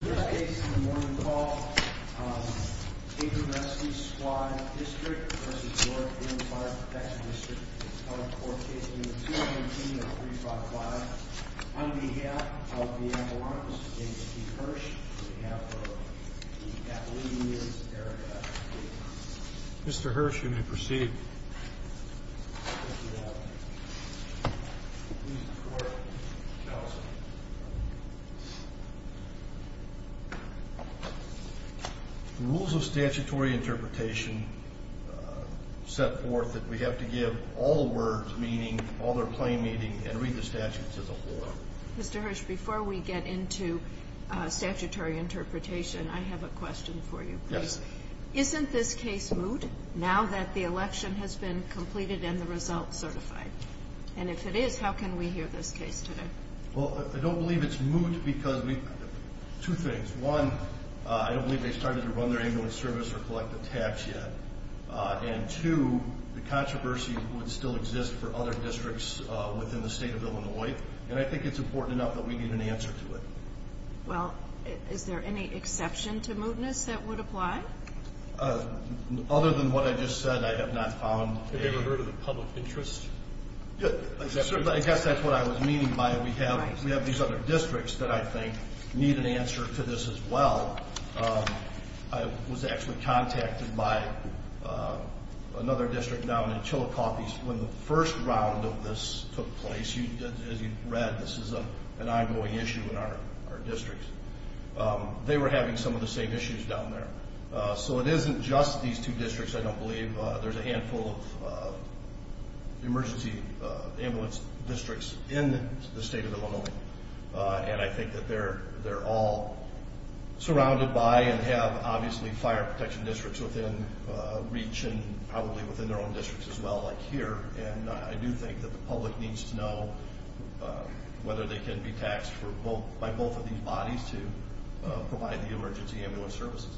In this case in the morning call, Capron Rescue Squad District v. North Boone Fire Protection District is calling for a case number 219-355 on behalf of the Ambulance Agency, Hirsch, on behalf of the Appalachian area. Mr. Hirsch, you may proceed. Rules of statutory interpretation set forth that we have to give all the words meaning, all their plain meaning, and read the statute to the floor. Mr. Hirsch, before we get into statutory interpretation, I have a question for you. Yes. Isn't this case moot now that the election has been completed and the results certified? And if it is, how can we hear this case today? Well, I don't believe it's moot because two things. One, I don't believe they started to run their ambulance service or collect the tax yet. And two, the controversy would still exist for other districts within the state of Illinois. And I think it's important enough that we give an answer to it. Well, is there any exception to mootness that would apply? Other than what I just said, I have not found a... Have you ever heard of the public interest? I guess that's what I was meaning by we have these other districts that I think need an answer to this as well. I was actually contacted by another district down in Chillicothe when the first round of this took place. As you read, this is an ongoing issue in our districts. They were having some of the same issues down there. So it isn't just these two districts, I don't believe. There's a handful of emergency ambulance districts in the state of Illinois. And I think that they're all surrounded by and have obviously fire protection districts within reach and probably within their own districts as well, like here. And I do think that the public needs to know whether they can be taxed by both of these bodies to provide the emergency ambulance services.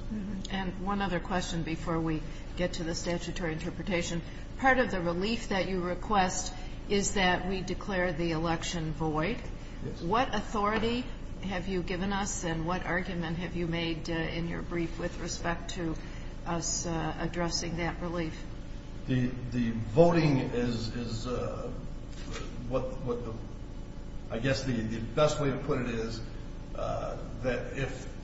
And one other question before we get to the statutory interpretation. Part of the relief that you request is that we declare the election void. What authority have you given us and what argument have you made in your brief with respect to us addressing that relief? The voting is what I guess the best way to put it is that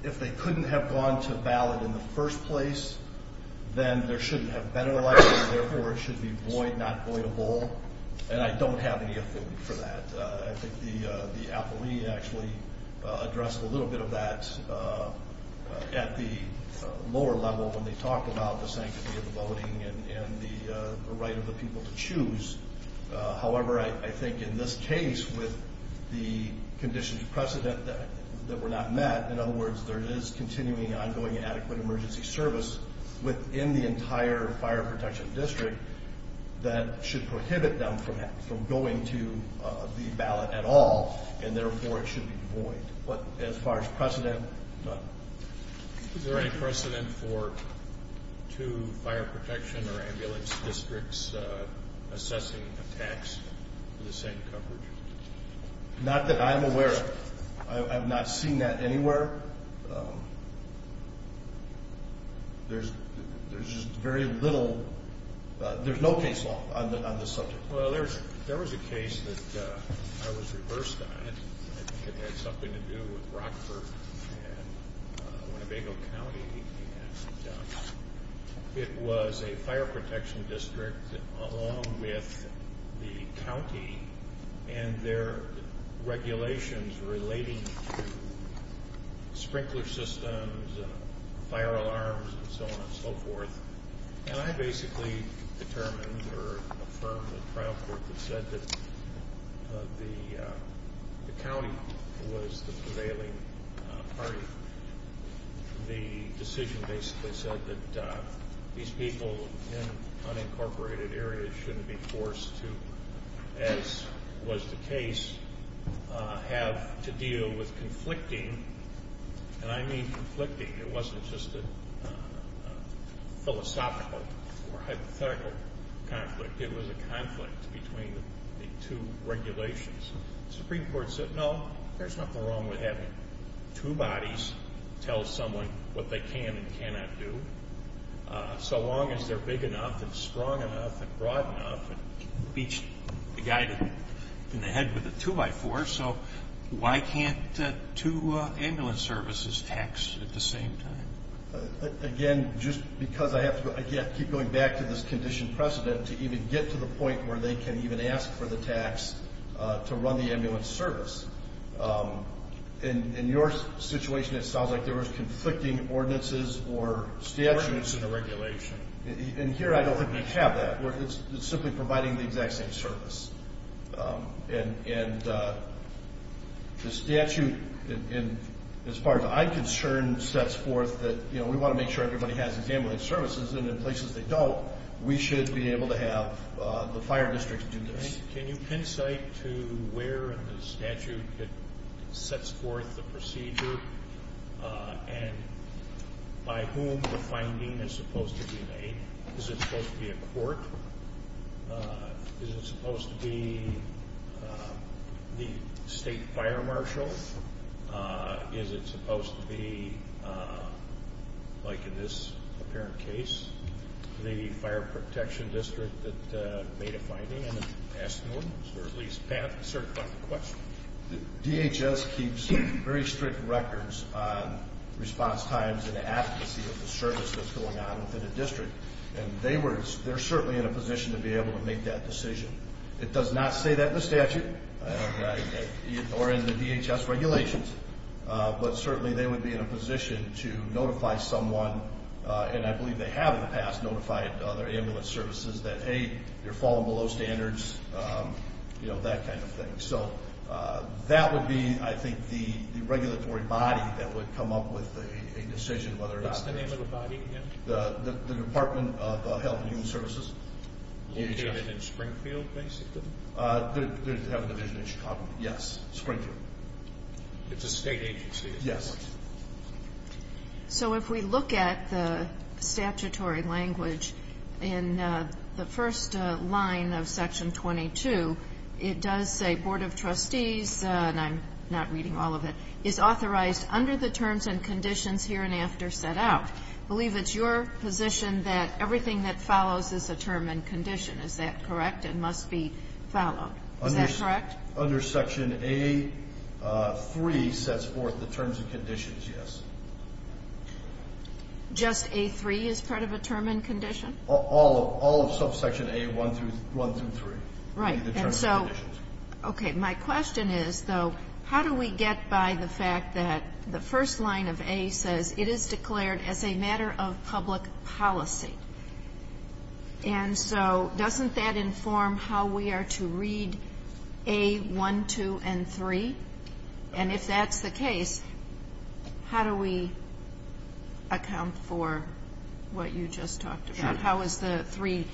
if they couldn't have gone to ballot in the first place, then there shouldn't have been an election. Therefore, it should be void, not voidable. And I don't have any affidavit for that. I think the appellee actually addressed a little bit of that at the lower level when they talked about the sanctity of the voting and the right of the people to choose. However, I think in this case, with the conditions of precedent that were not met, in other words, there is continuing ongoing adequate emergency service within the entire fire protection district that should prohibit them from going to the ballot at all, and therefore it should be void. But as far as precedent, none. Is there any precedent for two fire protection or ambulance districts assessing a tax for the same coverage? Not that I'm aware of. I've not seen that anywhere. There's just very little, there's no case law on this subject. Well, there was a case that I was reversed on. I think it had something to do with Rockford and Winnebago County. It was a fire protection district along with the county and their regulations relating to sprinkler systems, fire alarms, and so on and so forth. And I basically determined or affirmed the trial court that said that the county was the prevailing party. The decision basically said that these people in unincorporated areas shouldn't be forced to, as was the case, have to deal with conflicting, and I mean conflicting. It wasn't just a philosophical or hypothetical conflict. It was a conflict between the two regulations. The Supreme Court said, no, there's nothing wrong with having two bodies tell someone what they can and cannot do, so long as they're big enough and strong enough and broad enough. It beats the guy in the head with a two by four, so why can't two ambulance services tax at the same time? Again, just because I have to keep going back to this condition precedent to even get to the point where they can even ask for the tax to run the ambulance service. In your situation, it sounds like there was conflicting ordinances or statutes. Ordinance and a regulation. And here, I don't think we have that. It's simply providing the exact same service. And the statute, as far as I'm concerned, sets forth that we want to make sure everybody has ambulance services, and in places they don't, we should be able to have the fire districts do this. Can you pincite to where in the statute it sets forth the procedure and by whom the finding is supposed to be made? Is it supposed to be a court? Is it supposed to be the state fire marshal? Is it supposed to be, like in this apparent case, the fire protection district that made a finding? Can I ask an ordinance or at least certify the question? DHS keeps very strict records on response times and advocacy of the service that's going on within the district. And they're certainly in a position to be able to make that decision. It does not say that in the statute or in the DHS regulations. But certainly they would be in a position to notify someone, and I believe they have in the past notified other ambulance services that, hey, you're falling below standards, you know, that kind of thing. So that would be, I think, the regulatory body that would come up with a decision whether it's the name of the body, the Department of Health and Human Services. In Springfield, basically? They have a division in Chicago, yes, Springfield. It's a state agency? Yes. So if we look at the statutory language in the first line of Section 22, it does say, Board of Trustees, and I'm not reading all of it, is authorized under the terms and conditions hereinafter set out. I believe it's your position that everything that follows is a term and condition. Is that correct? It must be followed. Is that correct? Under Section A3 sets forth the terms and conditions, yes. Just A3 is part of a term and condition? All of subsection A1 through 3. Right. And so, okay, my question is, though, how do we get by the fact that the first line of A says it is declared as a matter of public policy? And so doesn't that inform how we are to read A1, 2, and 3? And if that's the case, how do we account for what you just talked about? Sure. How is the 3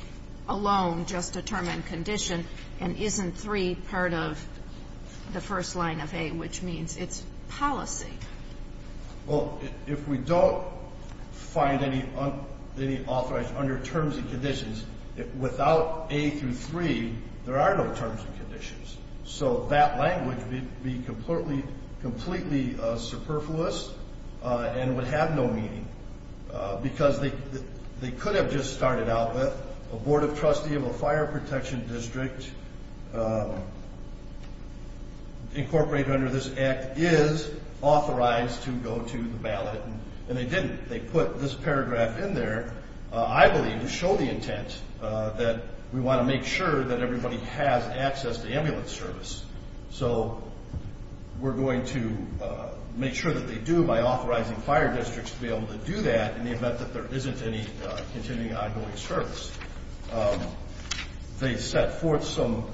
alone just a term and condition, and isn't 3 part of the first line of A, which means it's policy? Well, if we don't find any authorized under terms and conditions, without A through 3, there are no terms and conditions. So that language would be completely superfluous and would have no meaning. Because they could have just started out with, a board of trustee of a fire protection district incorporated under this act is authorized to go to the ballot. And they didn't. They put this paragraph in there, I believe, to show the intent that we want to make sure that everybody has access to ambulance service. So we're going to make sure that they do by authorizing fire districts to be able to do that in the event that there isn't any continuing ongoing service. They set forth some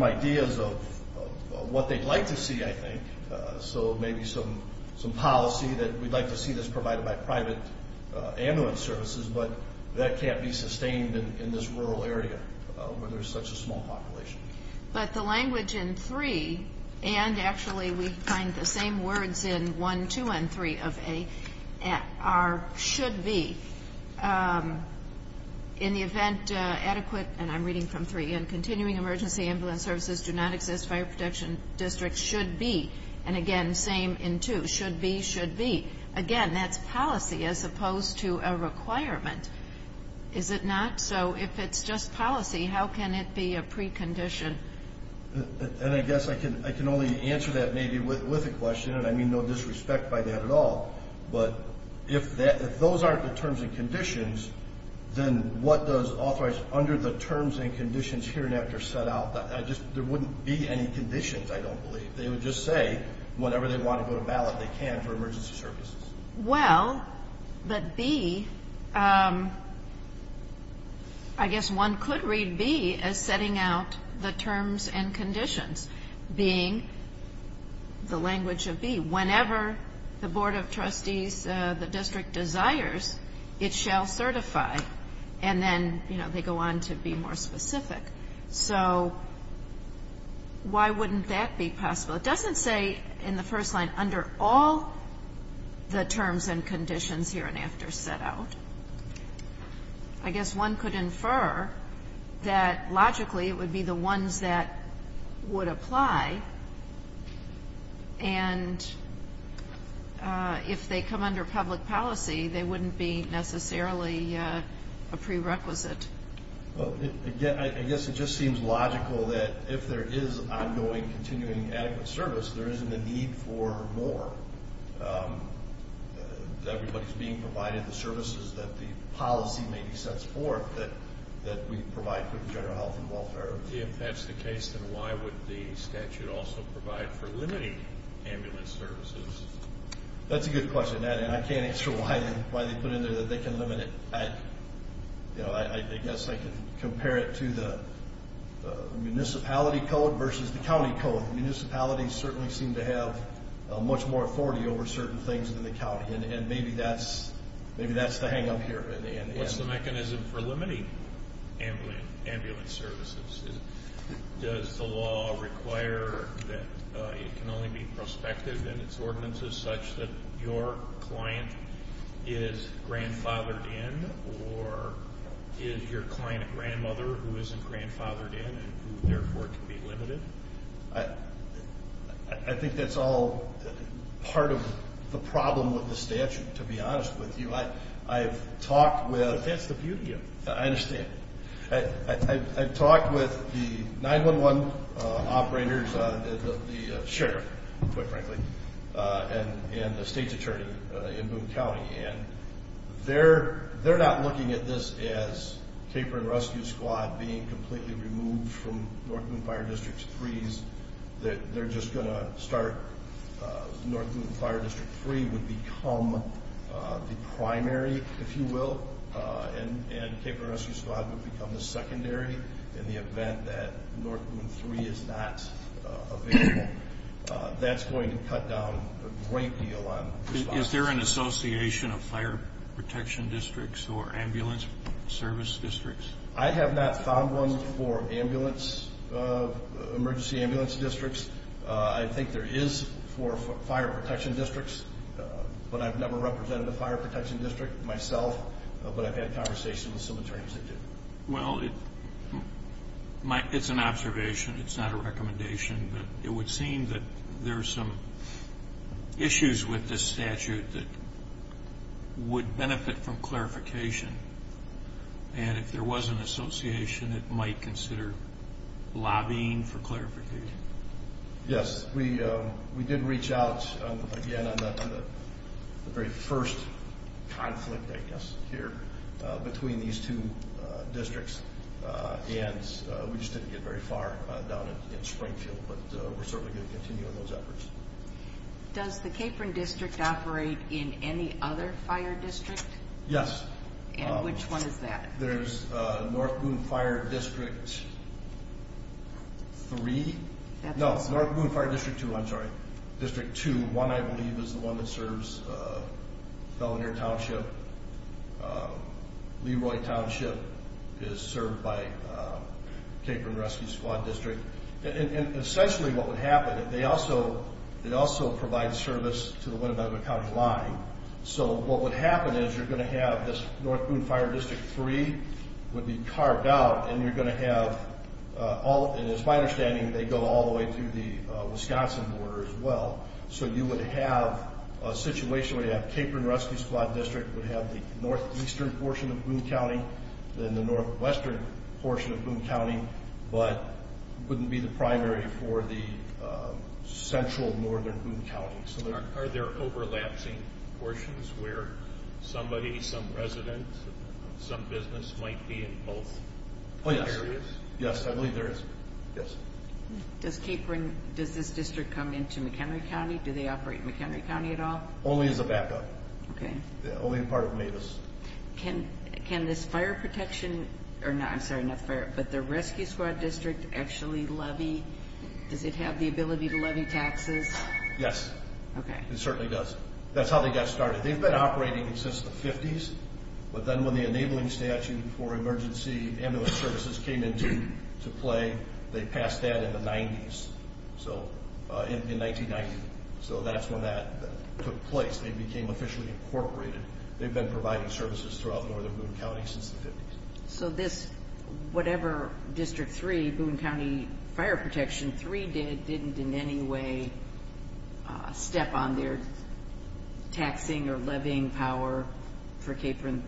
ideas of what they'd like to see, I think. So maybe some policy that we'd like to see this provided by private ambulance services, but that can't be sustained in this rural area where there's such a small population. But the language in 3, and actually we find the same words in 1, 2, and 3 of A, are should be. In the event adequate, and I'm reading from 3, and continuing emergency ambulance services do not exist, fire protection districts should be. And again, same in 2. Should be, should be. Again, that's policy as opposed to a requirement. Is it not? So if it's just policy, how can it be a precondition? And I guess I can only answer that maybe with a question, and I mean no disrespect by that at all. But if those aren't the terms and conditions, then what does authorize under the terms and conditions here and after set out? There wouldn't be any conditions, I don't believe. They would just say whenever they want to go to ballot, they can for emergency services. Well, but B, I guess one could read B as setting out the terms and conditions being the language of B. Whenever the Board of Trustees, the district desires, it shall certify. And then, you know, they go on to be more specific. So why wouldn't that be possible? Well, it doesn't say in the first line under all the terms and conditions here and after set out. I guess one could infer that logically it would be the ones that would apply. And if they come under public policy, they wouldn't be necessarily a prerequisite. Well, again, I guess it just seems logical that if there is ongoing continuing adequate service, there isn't a need for more. Everybody's being provided the services that the policy maybe sets forth that we provide for general health and welfare. If that's the case, then why would the statute also provide for limiting ambulance services? That's a good question, and I can't answer why they put in there that they can limit it. I guess I could compare it to the municipality code versus the county code. Municipalities certainly seem to have much more authority over certain things than the county. And maybe that's the hang-up here. What's the mechanism for limiting ambulance services? Does the law require that it can only be prospective in its ordinances such that your client is grandfathered in, or is your client a grandmother who isn't grandfathered in and who, therefore, can be limited? I think that's all part of the problem with the statute, to be honest with you. I've talked with— That's the beauty of it. I understand. I've talked with the 911 operators, the sheriff, quite frankly, and the state's attorney in Boone County, and they're not looking at this as Caper and Rescue Squad being completely removed from North Boone Fire District 3's, that they're just going to start—North Boone Fire District 3 would become the primary, if you will, and Caper and Rescue Squad would become the secondary in the event that North Boone 3 is not available. That's going to cut down a great deal on— Is there an association of fire protection districts or ambulance service districts? I have not found one for ambulance—emergency ambulance districts. I think there is for fire protection districts, but I've never represented a fire protection district myself, but I've had conversations with some attorneys that do. Well, it's an observation. It's not a recommendation, but it would seem that there are some issues with this statute that would benefit from clarification, and if there was an association, it might consider lobbying for clarification. Yes, we did reach out, again, on the very first conflict, I guess, here between these two districts, and we just didn't get very far down in Springfield, but we're certainly going to continue on those efforts. Does the Capron District operate in any other fire district? Yes. And which one is that? There's North Boone Fire District 3. No, it's North Boone Fire District 2, I'm sorry. District 2, 1, I believe, is the one that serves Fellanier Township. Leroy Township is served by Capron Rescue Squad District. And essentially what would happen, they also provide service to the Winnebago County line, so what would happen is you're going to have this North Boone Fire District 3 would be carved out, and you're going to have all, and it's my understanding they go all the way to the Wisconsin border as well, so you would have a situation where you have Capron Rescue Squad District would have the northeastern portion of Boone County, then the northwestern portion of Boone County, but wouldn't be the primary for the central northern Boone County. Are there overlapsing portions where somebody, some resident, some business might be in both areas? Yes, I believe there is. Does Capron, does this district come into McHenry County? Do they operate in McHenry County at all? Only as a backup. Okay. Only part of Mavis. Can this fire protection, I'm sorry, not fire, but the Rescue Squad District actually levy, does it have the ability to levy taxes? Yes. Okay. It certainly does. That's how they got started. They've been operating since the 50s, but then when the enabling statute for emergency ambulance services came into play, they passed that in the 90s, so in 1990, so that's when that took place. They became officially incorporated. They've been providing services throughout northern Boone County since the 50s. So this, whatever District 3, Boone County Fire Protection 3 did, didn't in any way step on their taxing or levying power for Capron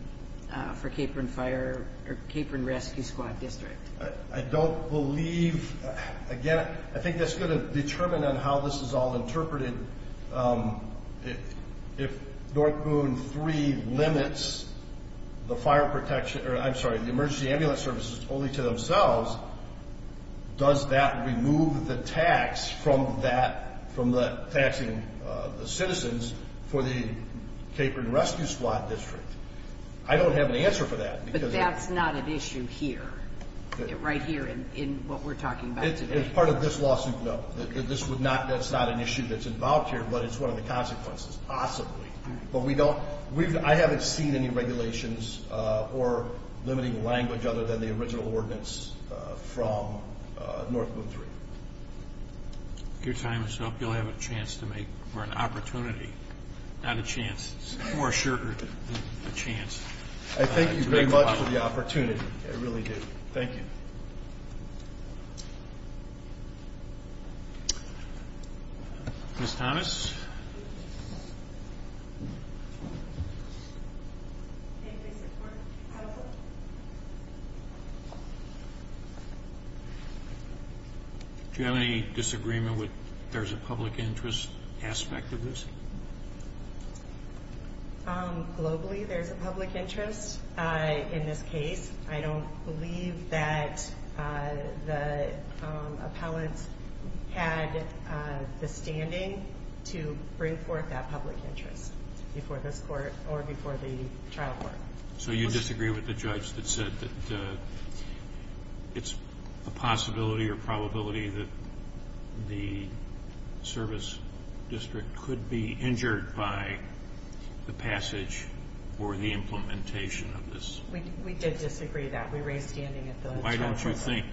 Fire or Capron Rescue Squad District? I don't believe, again, I think that's going to determine on how this is all interpreted. If North Boone 3 limits the fire protection, or I'm sorry, the emergency ambulance services only to themselves, does that remove the tax from that, from taxing the citizens for the Capron Rescue Squad District? I don't have an answer for that. But that's not an issue here, right here in what we're talking about today. As part of this lawsuit, no. This would not, that's not an issue that's involved here, but it's one of the consequences, possibly. But we don't, I haven't seen any regulations or limiting language other than the original ordinance from North Boone 3. If your time is up, you'll have a chance to make, or an opportunity, not a chance. It's far shorter than a chance. I thank you very much for the opportunity. I really do. Thank you. Ms. Thomas? Do you have any disagreement with there's a public interest aspect of this? Globally, there's a public interest in this case. I don't believe that the appellants had the standing to bring forth that public interest before this court or before the trial court. So you disagree with the judge that said that it's a possibility or probability that the service district could be injured by the passage or the implementation of this? We did disagree that. We raised standing at the trial court. Why don't you think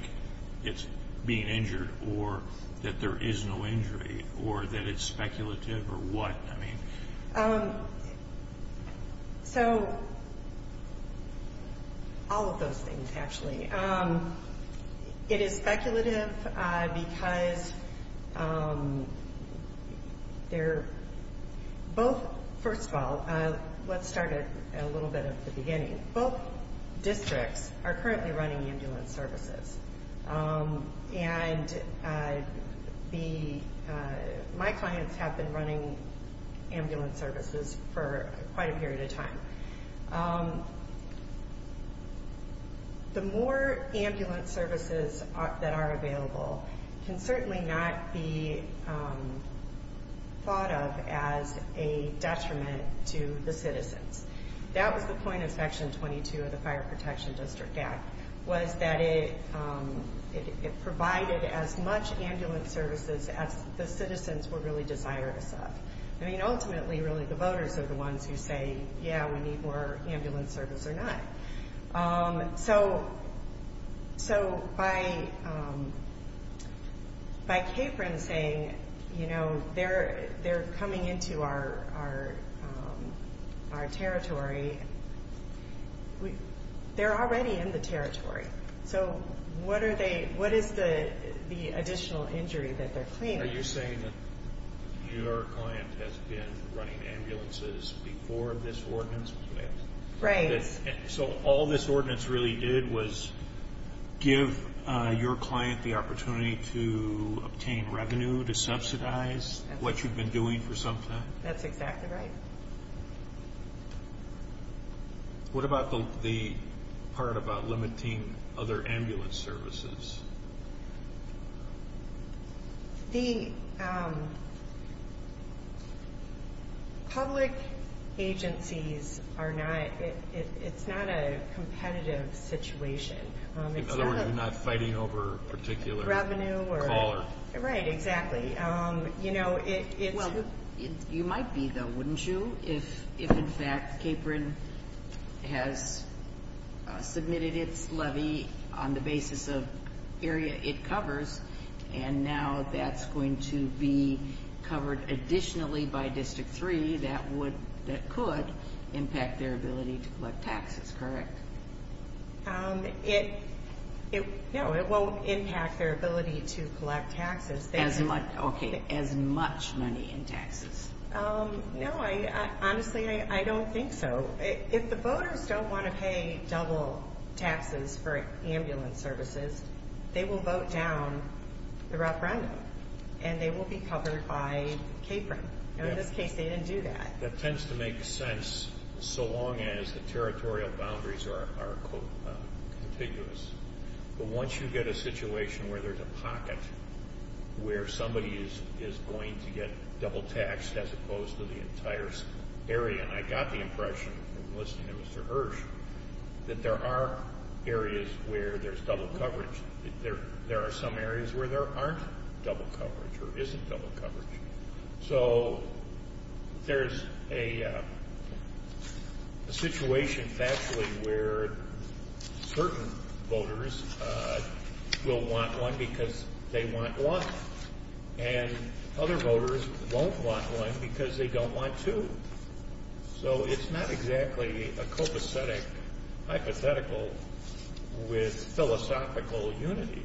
it's being injured or that there is no injury or that it's speculative or what? I mean... So, all of those things, actually. It is speculative because they're both, first of all, let's start a little bit at the beginning. Both districts are currently running ambulance services. And my clients have been running ambulance services for quite a period of time. The more ambulance services that are available can certainly not be thought of as a detriment to the citizens. That was the point of Section 22 of the Fire Protection District Act, was that it provided as much ambulance services as the citizens would really desire to serve. I mean, ultimately, really, the voters are the ones who say, yeah, we need more ambulance service or not. So by Capron saying, you know, they're coming into our territory, they're already in the territory. So what is the additional injury that they're claiming? Are you saying that your client has been running ambulances before this ordinance was passed? Right. So all this ordinance really did was give your client the opportunity to obtain revenue to subsidize what you've been doing for some time? That's exactly right. What about the part about limiting other ambulance services? The public agencies are not – it's not a competitive situation. In other words, you're not fighting over particular callers. Right, exactly. Well, you might be though, wouldn't you, if in fact Capron has submitted its levy on the basis of area it covers, and now that's going to be covered additionally by District 3, that could impact their ability to collect taxes, correct? No, it won't impact their ability to collect taxes. Okay, as much money in taxes. No, honestly, I don't think so. If the voters don't want to pay double taxes for ambulance services, they will vote down the referendum, and they will be covered by Capron. In this case, they didn't do that. That tends to make sense so long as the territorial boundaries are, quote, contiguous. But once you get a situation where there's a pocket where somebody is going to get double taxed as opposed to the entire area, and I got the impression from listening to Mr. Hirsch that there are areas where there's double coverage. There are some areas where there aren't double coverage or isn't double coverage. So there's a situation, factually, where certain voters will want one because they want one, and other voters won't want one because they don't want two. So it's not exactly a copacetic hypothetical with philosophical unity.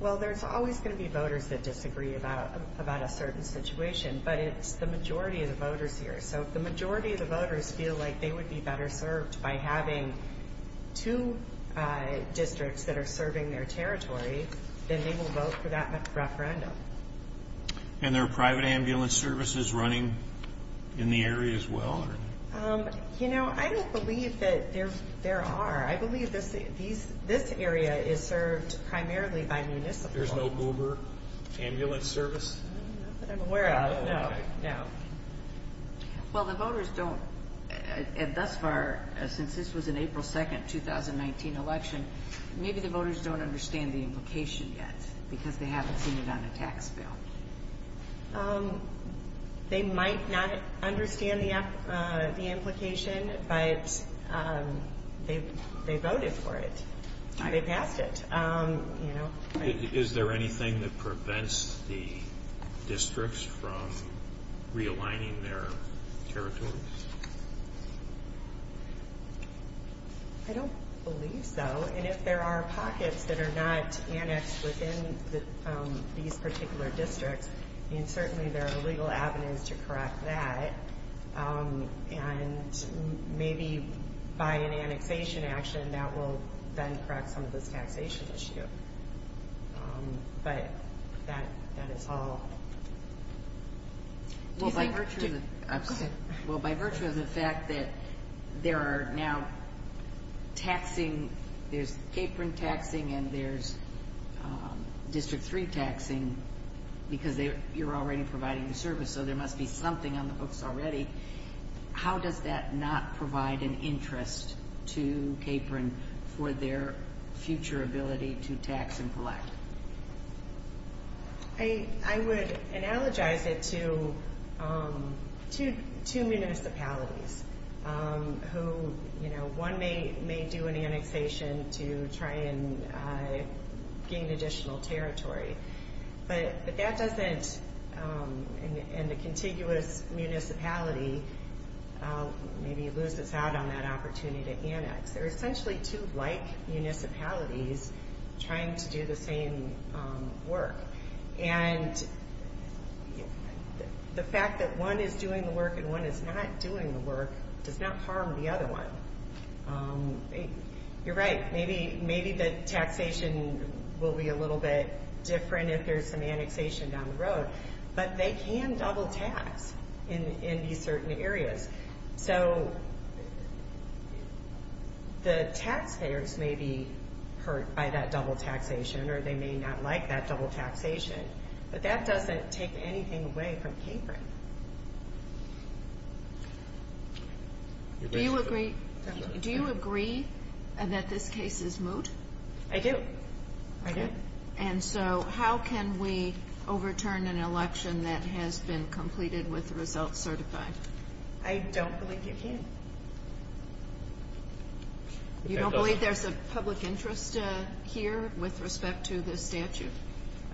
Well, there's always going to be voters that disagree about a certain situation, but it's the majority of the voters here. So if the majority of the voters feel like they would be better served by having two districts that are serving their territory, then they will vote for that referendum. And there are private ambulance services running in the area as well? You know, I don't believe that there are. I believe this area is served primarily by municipal. There's no Uber ambulance service? Not that I'm aware of, no. Well, the voters don't, and thus far, since this was an April 2, 2019 election, maybe the voters don't understand the implication yet because they haven't seen it on a tax bill. They might not understand the implication, but they voted for it. They passed it. Is there anything that prevents the districts from realigning their territories? I don't believe so. And if there are pockets that are not annexed within these particular districts, then certainly there are legal avenues to correct that. And maybe by an annexation action, that will then correct some of this taxation issue. But that is all. Well, by virtue of the fact that there are now taxing, there's Capron taxing and there's District 3 taxing because you're already providing the service, so there must be something on the books already. How does that not provide an interest to Capron for their future ability to tax and collect? I would analogize it to two municipalities who, you know, one may do an annexation to try and gain additional territory, but that doesn't, and the contiguous municipality maybe loses out on that opportunity to annex. They're essentially two like municipalities trying to do the same work. And the fact that one is doing the work and one is not doing the work does not harm the other one. You're right. Maybe the taxation will be a little bit different if there's some annexation down the road, but they can double tax in these certain areas. So the taxpayers may be hurt by that double taxation or they may not like that double taxation, but that doesn't take anything away from Capron. Do you agree that this case is moot? I do. I do. And so how can we overturn an election that has been completed with results certified? I don't believe you can. You don't believe there's a public interest here with respect to this statute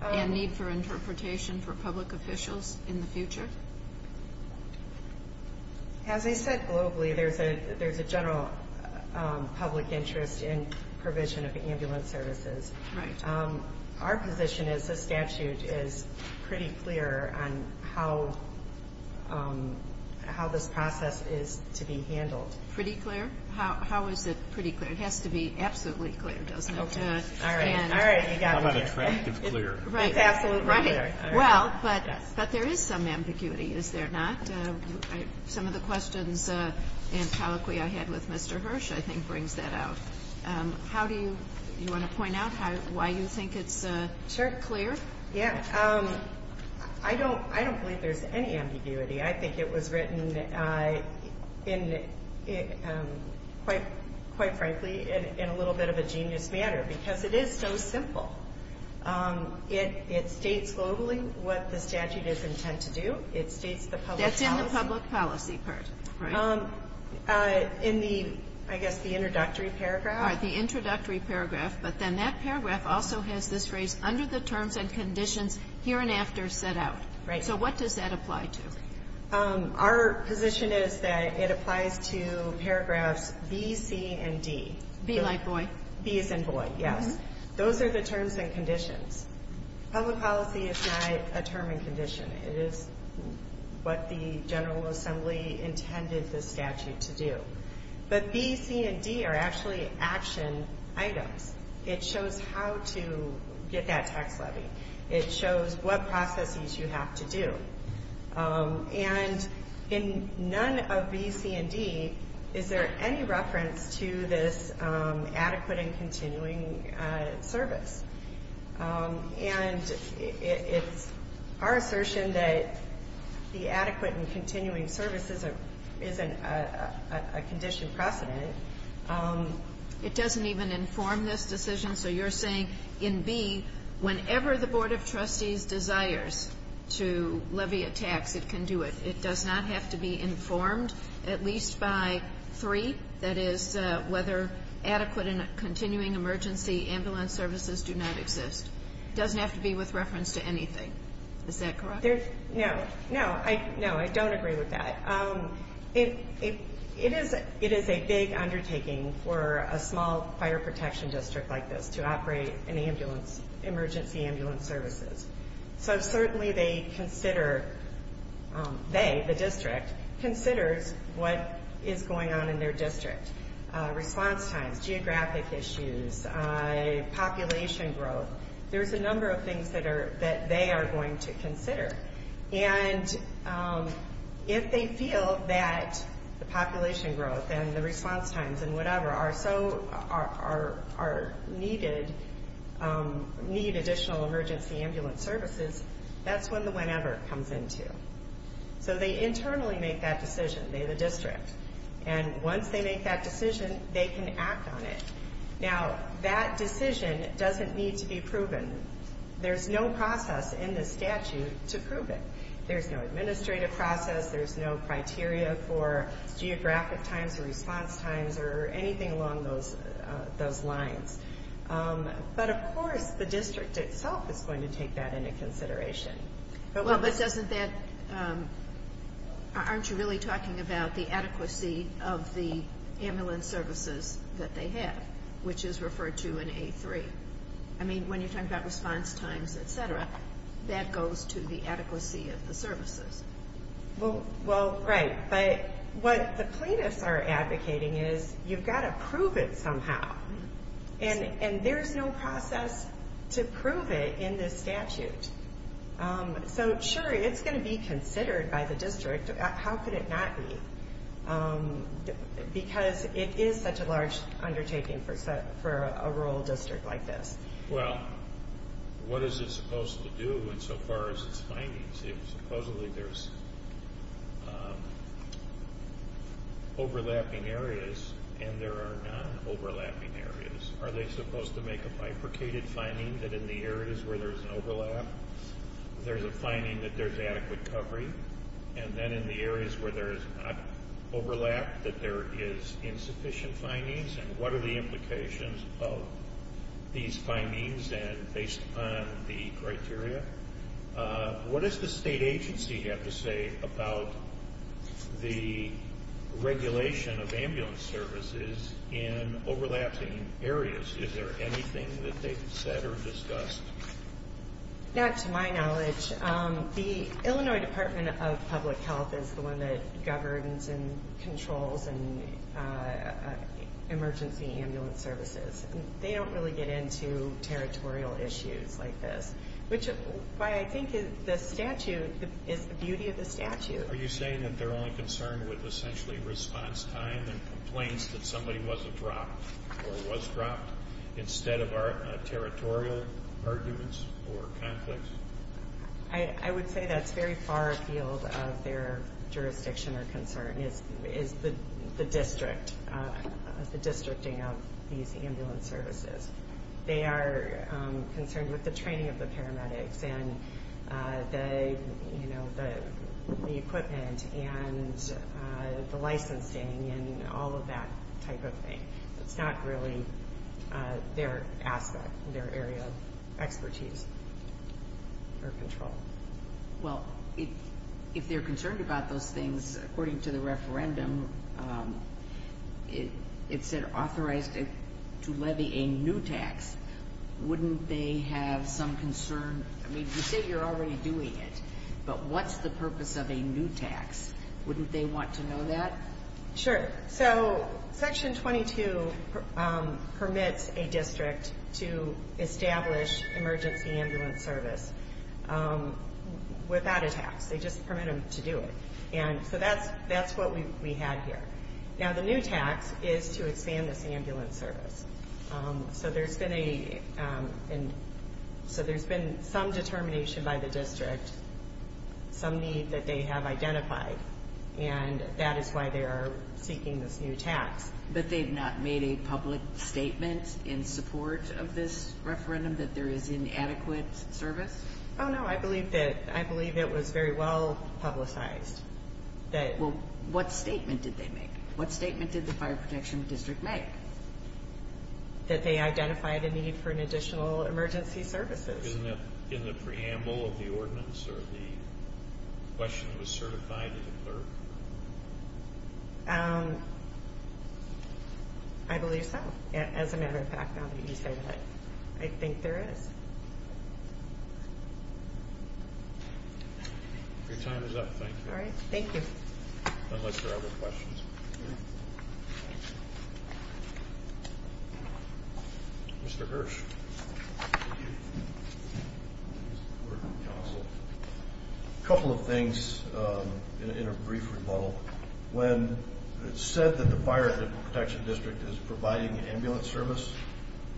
and need for interpretation for public officials in the future? As I said, globally, there's a general public interest in provision of ambulance services. Right. Our position is the statute is pretty clear on how this process is to be handled. Pretty clear? How is it pretty clear? It has to be absolutely clear, doesn't it? Okay. All right. All right. You got me. How about attractive clear? Right. It's absolutely clear. Right. Well, but there is some ambiguity, is there not? Some of the questions and colloquy I had with Mr. Hirsch, I think, brings that out. Do you want to point out why you think it's clear? Yeah. I don't believe there's any ambiguity. I think it was written, quite frankly, in a little bit of a genius manner because it is so simple. It states globally what the statute is intent to do. It states the public policy. That's in the public policy part, right? In the, I guess, the introductory paragraph. All right. The introductory paragraph. But then that paragraph also has this phrase, under the terms and conditions, here and after set out. Right. So what does that apply to? Our position is that it applies to paragraphs B, C, and D. Be like boy. B as in boy, yes. Those are the terms and conditions. Public policy is not a term and condition. It is what the General Assembly intended the statute to do. But B, C, and D are actually action items. It shows how to get that tax levy. It shows what processes you have to do. And in none of B, C, and D is there any reference to this adequate and continuing service. And it's our assertion that the adequate and continuing service isn't a condition precedent. It doesn't even inform this decision. So you're saying in B, whenever the Board of Trustees desires to levy a tax, it can do it. It does not have to be informed, at least by three. That is, whether adequate and continuing emergency ambulance services do not exist. It doesn't have to be with reference to anything. Is that correct? No. No, I don't agree with that. It is a big undertaking for a small fire protection district like this to operate an ambulance, emergency ambulance services. So certainly they consider, they, the district, considers what is going on in their district. Response times, geographic issues, population growth. There's a number of things that they are going to consider. And if they feel that the population growth and the response times and whatever are so, are needed, need additional emergency ambulance services, that's when the whenever comes into. So they internally make that decision, they, the district. And once they make that decision, they can act on it. Now, that decision doesn't need to be proven. There's no process in the statute to prove it. There's no administrative process. There's no criteria for geographic times or response times or anything along those lines. But, of course, the district itself is going to take that into consideration. Well, but doesn't that, aren't you really talking about the adequacy of the ambulance services that they have, which is referred to in A3? I mean, when you're talking about response times, et cetera, that goes to the adequacy of the services. Well, right. But what the plaintiffs are advocating is you've got to prove it somehow. And there's no process to prove it in this statute. So, sure, it's going to be considered by the district. How could it not be? Because it is such a large undertaking for a rural district like this. Well, what is it supposed to do insofar as its findings? Supposedly, there's overlapping areas and there are non-overlapping areas. Are they supposed to make a bifurcated finding that in the areas where there's an overlap, there's a finding that there's adequate covering? And then in the areas where there's not overlap, that there is insufficient findings? And what are the implications of these findings based upon the criteria? What does the state agency have to say about the regulation of ambulance services in overlapping areas? Is there anything that they've said or discussed? Not to my knowledge. The Illinois Department of Public Health is the one that governs and controls emergency ambulance services. They don't really get into territorial issues like this, which is why I think the statute is the beauty of the statute. Are you saying that they're only concerned with essentially response time that somebody wasn't dropped or was dropped instead of territorial arguments or conflicts? I would say that's very far afield of their jurisdiction or concern is the districting of these ambulance services. They are concerned with the training of the paramedics and the equipment and the licensing and all of that type of thing. It's not really their aspect, their area of expertise or control. Well, if they're concerned about those things, according to the referendum, it said authorized to levy a new tax. Wouldn't they have some concern? I mean, you say you're already doing it, but what's the purpose of a new tax? Wouldn't they want to know that? Sure. So Section 22 permits a district to establish emergency ambulance service without a tax. They just permit them to do it. And so that's what we had here. Now, the new tax is to expand this ambulance service. So there's been some determination by the district, some need that they have identified, and that is why they are seeking this new tax. But they've not made a public statement in support of this referendum that there is inadequate service? Oh, no. I believe it was very well publicized. Well, what statement did they make? What statement did the Fire Protection District make? That they identified a need for an additional emergency services. Isn't that in the preamble of the ordinance or the question that was certified in the clerk? I believe so. As a matter of fact, I'll let you say that. I think there is. Your time is up. Thank you. All right. Thank you. Unless there are other questions. Mr. Hirsch. A couple of things in a brief rebuttal. When it's said that the Fire Protection District is providing ambulance service,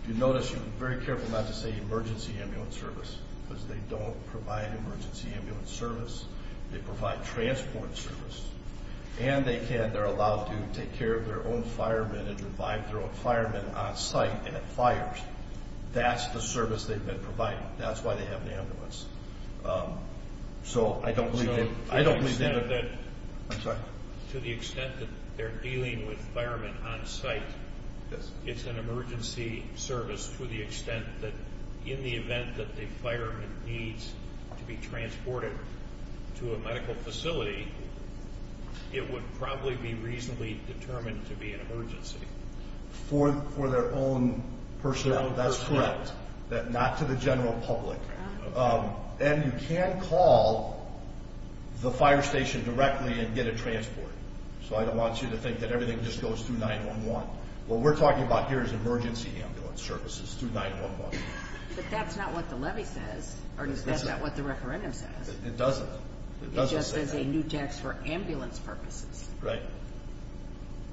you notice you're very careful not to say emergency ambulance service because they don't provide emergency ambulance service. They provide transport service. And they're allowed to take care of their own firemen and revive their own firemen on site and at fires. That's the service they've been providing. That's why they have an ambulance. So I don't believe that... To the extent that they're dealing with firemen on site, it's an emergency service to the extent that in the event that the fireman needs to be transported to a medical facility, it would probably be reasonably determined to be an emergency. For their own personnel? That's correct. Not to the general public. And you can call the fire station directly and get a transport. So I don't want you to think that everything just goes through 9-1-1. What we're talking about here is emergency ambulance services through 9-1-1. But that's not what the levy says. Or is that not what the referendum says? It doesn't. It just says a new tax for ambulance purposes. Right.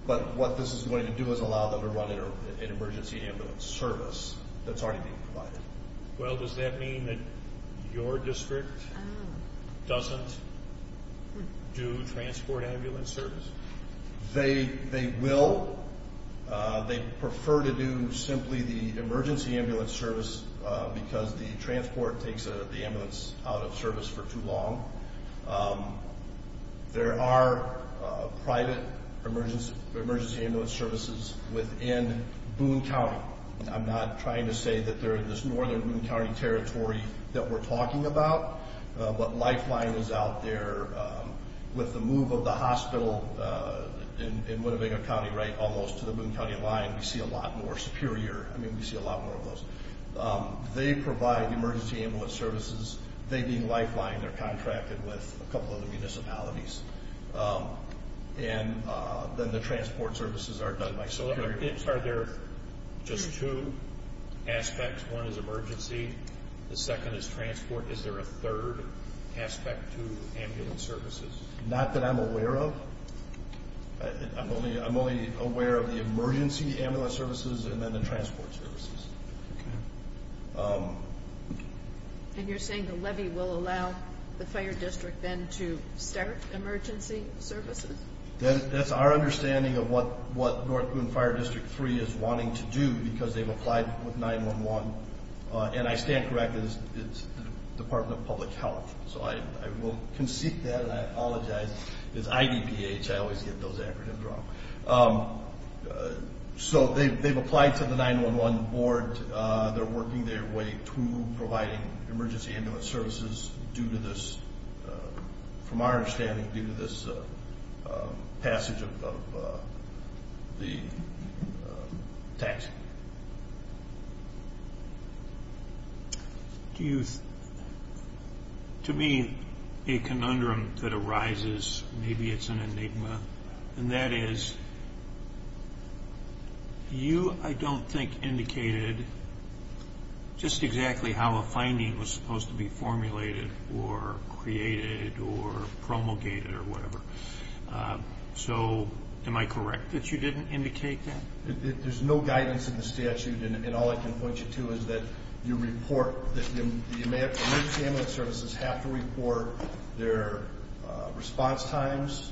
But what this is going to do is allow them to run an emergency ambulance service that's already being provided. Well, does that mean that your district doesn't do transport ambulance service? They will. They prefer to do simply the emergency ambulance service because the transport takes the ambulance out of service for too long. There are private emergency ambulance services within Boone County. I'm not trying to say that they're in this northern Boone County territory that we're talking about. But Lifeline is out there. With the move of the hospital in Winnebago County, right, almost to the Boone County line, we see a lot more Superior. I mean, we see a lot more of those. They provide emergency ambulance services. They, being Lifeline, they're contracted with a couple other municipalities. And then the transport services are done by Superior. So are there just two aspects? One is emergency. The second is transport. Is there a third aspect to ambulance services? Not that I'm aware of. I'm only aware of the emergency ambulance services and then the transport services. And you're saying the levy will allow the fire district then to start emergency services? That's our understanding of what North Boone Fire District 3 is wanting to do because they've applied with 911. And I stand corrected, it's the Department of Public Health. So I will concede that and I apologize. It's IDPH. I always get those acronyms wrong. So they've applied to the 911 board. They're working their way to providing emergency ambulance services due to this, from our understanding, due to this passage of the tax. To me, a conundrum that arises, maybe it's an enigma, and that is, you, I don't think, indicated just exactly how a finding was supposed to be formulated or created or promulgated or whatever. So am I correct that you didn't indicate that? There's no guidance in the statute. And all I can point you to is that you report that the emergency ambulance services have to report their response times,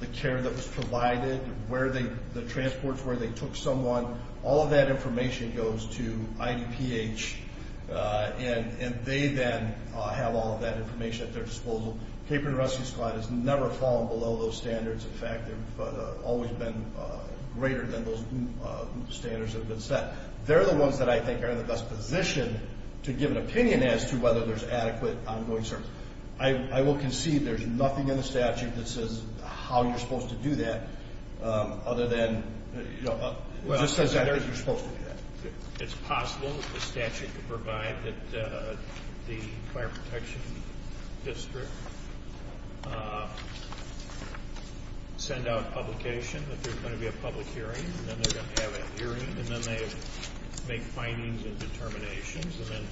the care that was provided, where the transports were, they took someone. All of that information goes to IDPH, and they then have all of that information at their disposal. Caperton Rescue Squad has never fallen below those standards. In fact, they've always been greater than those standards that have been set. They're the ones that I think are in the best position to give an opinion as to whether there's adequate ongoing service. I will concede there's nothing in the statute that says how you're supposed to do that other than, you know, it just says that you're supposed to do that. It's possible that the statute could provide that the Fire Protection District send out publication that there's going to be a public hearing, and then they're going to have that hearing, and then they make findings and determinations, and then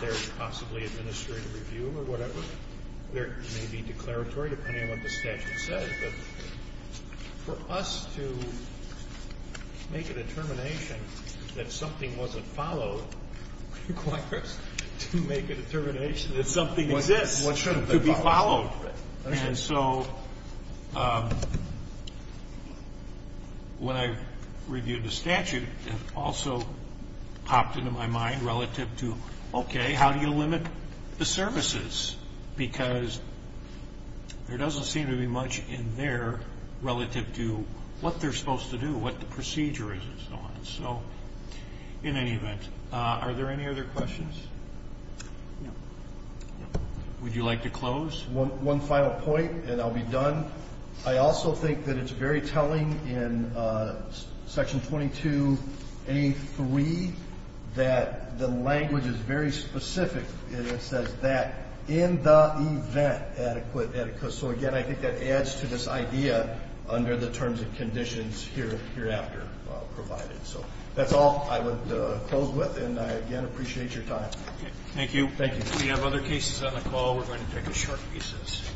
there's possibly administrative review or whatever. There may be declaratory, depending on what the statute says. But for us to make a determination that something wasn't followed requires to make a determination that something exists to be followed. And so when I reviewed the statute, it also popped into my mind relative to, okay, how do you limit the services? Because there doesn't seem to be much in there relative to what they're supposed to do, what the procedure is and so on. So in any event, are there any other questions? Would you like to close? One final point, and I'll be done. I also think that it's very telling in Section 22A.3 that the language is very specific. It says that in the event adequate etiquette. So, again, I think that adds to this idea under the terms and conditions hereafter provided. So that's all I would close with, and I, again, appreciate your time. Thank you. Thank you. If we have other cases on the call, we're going to take a short recess.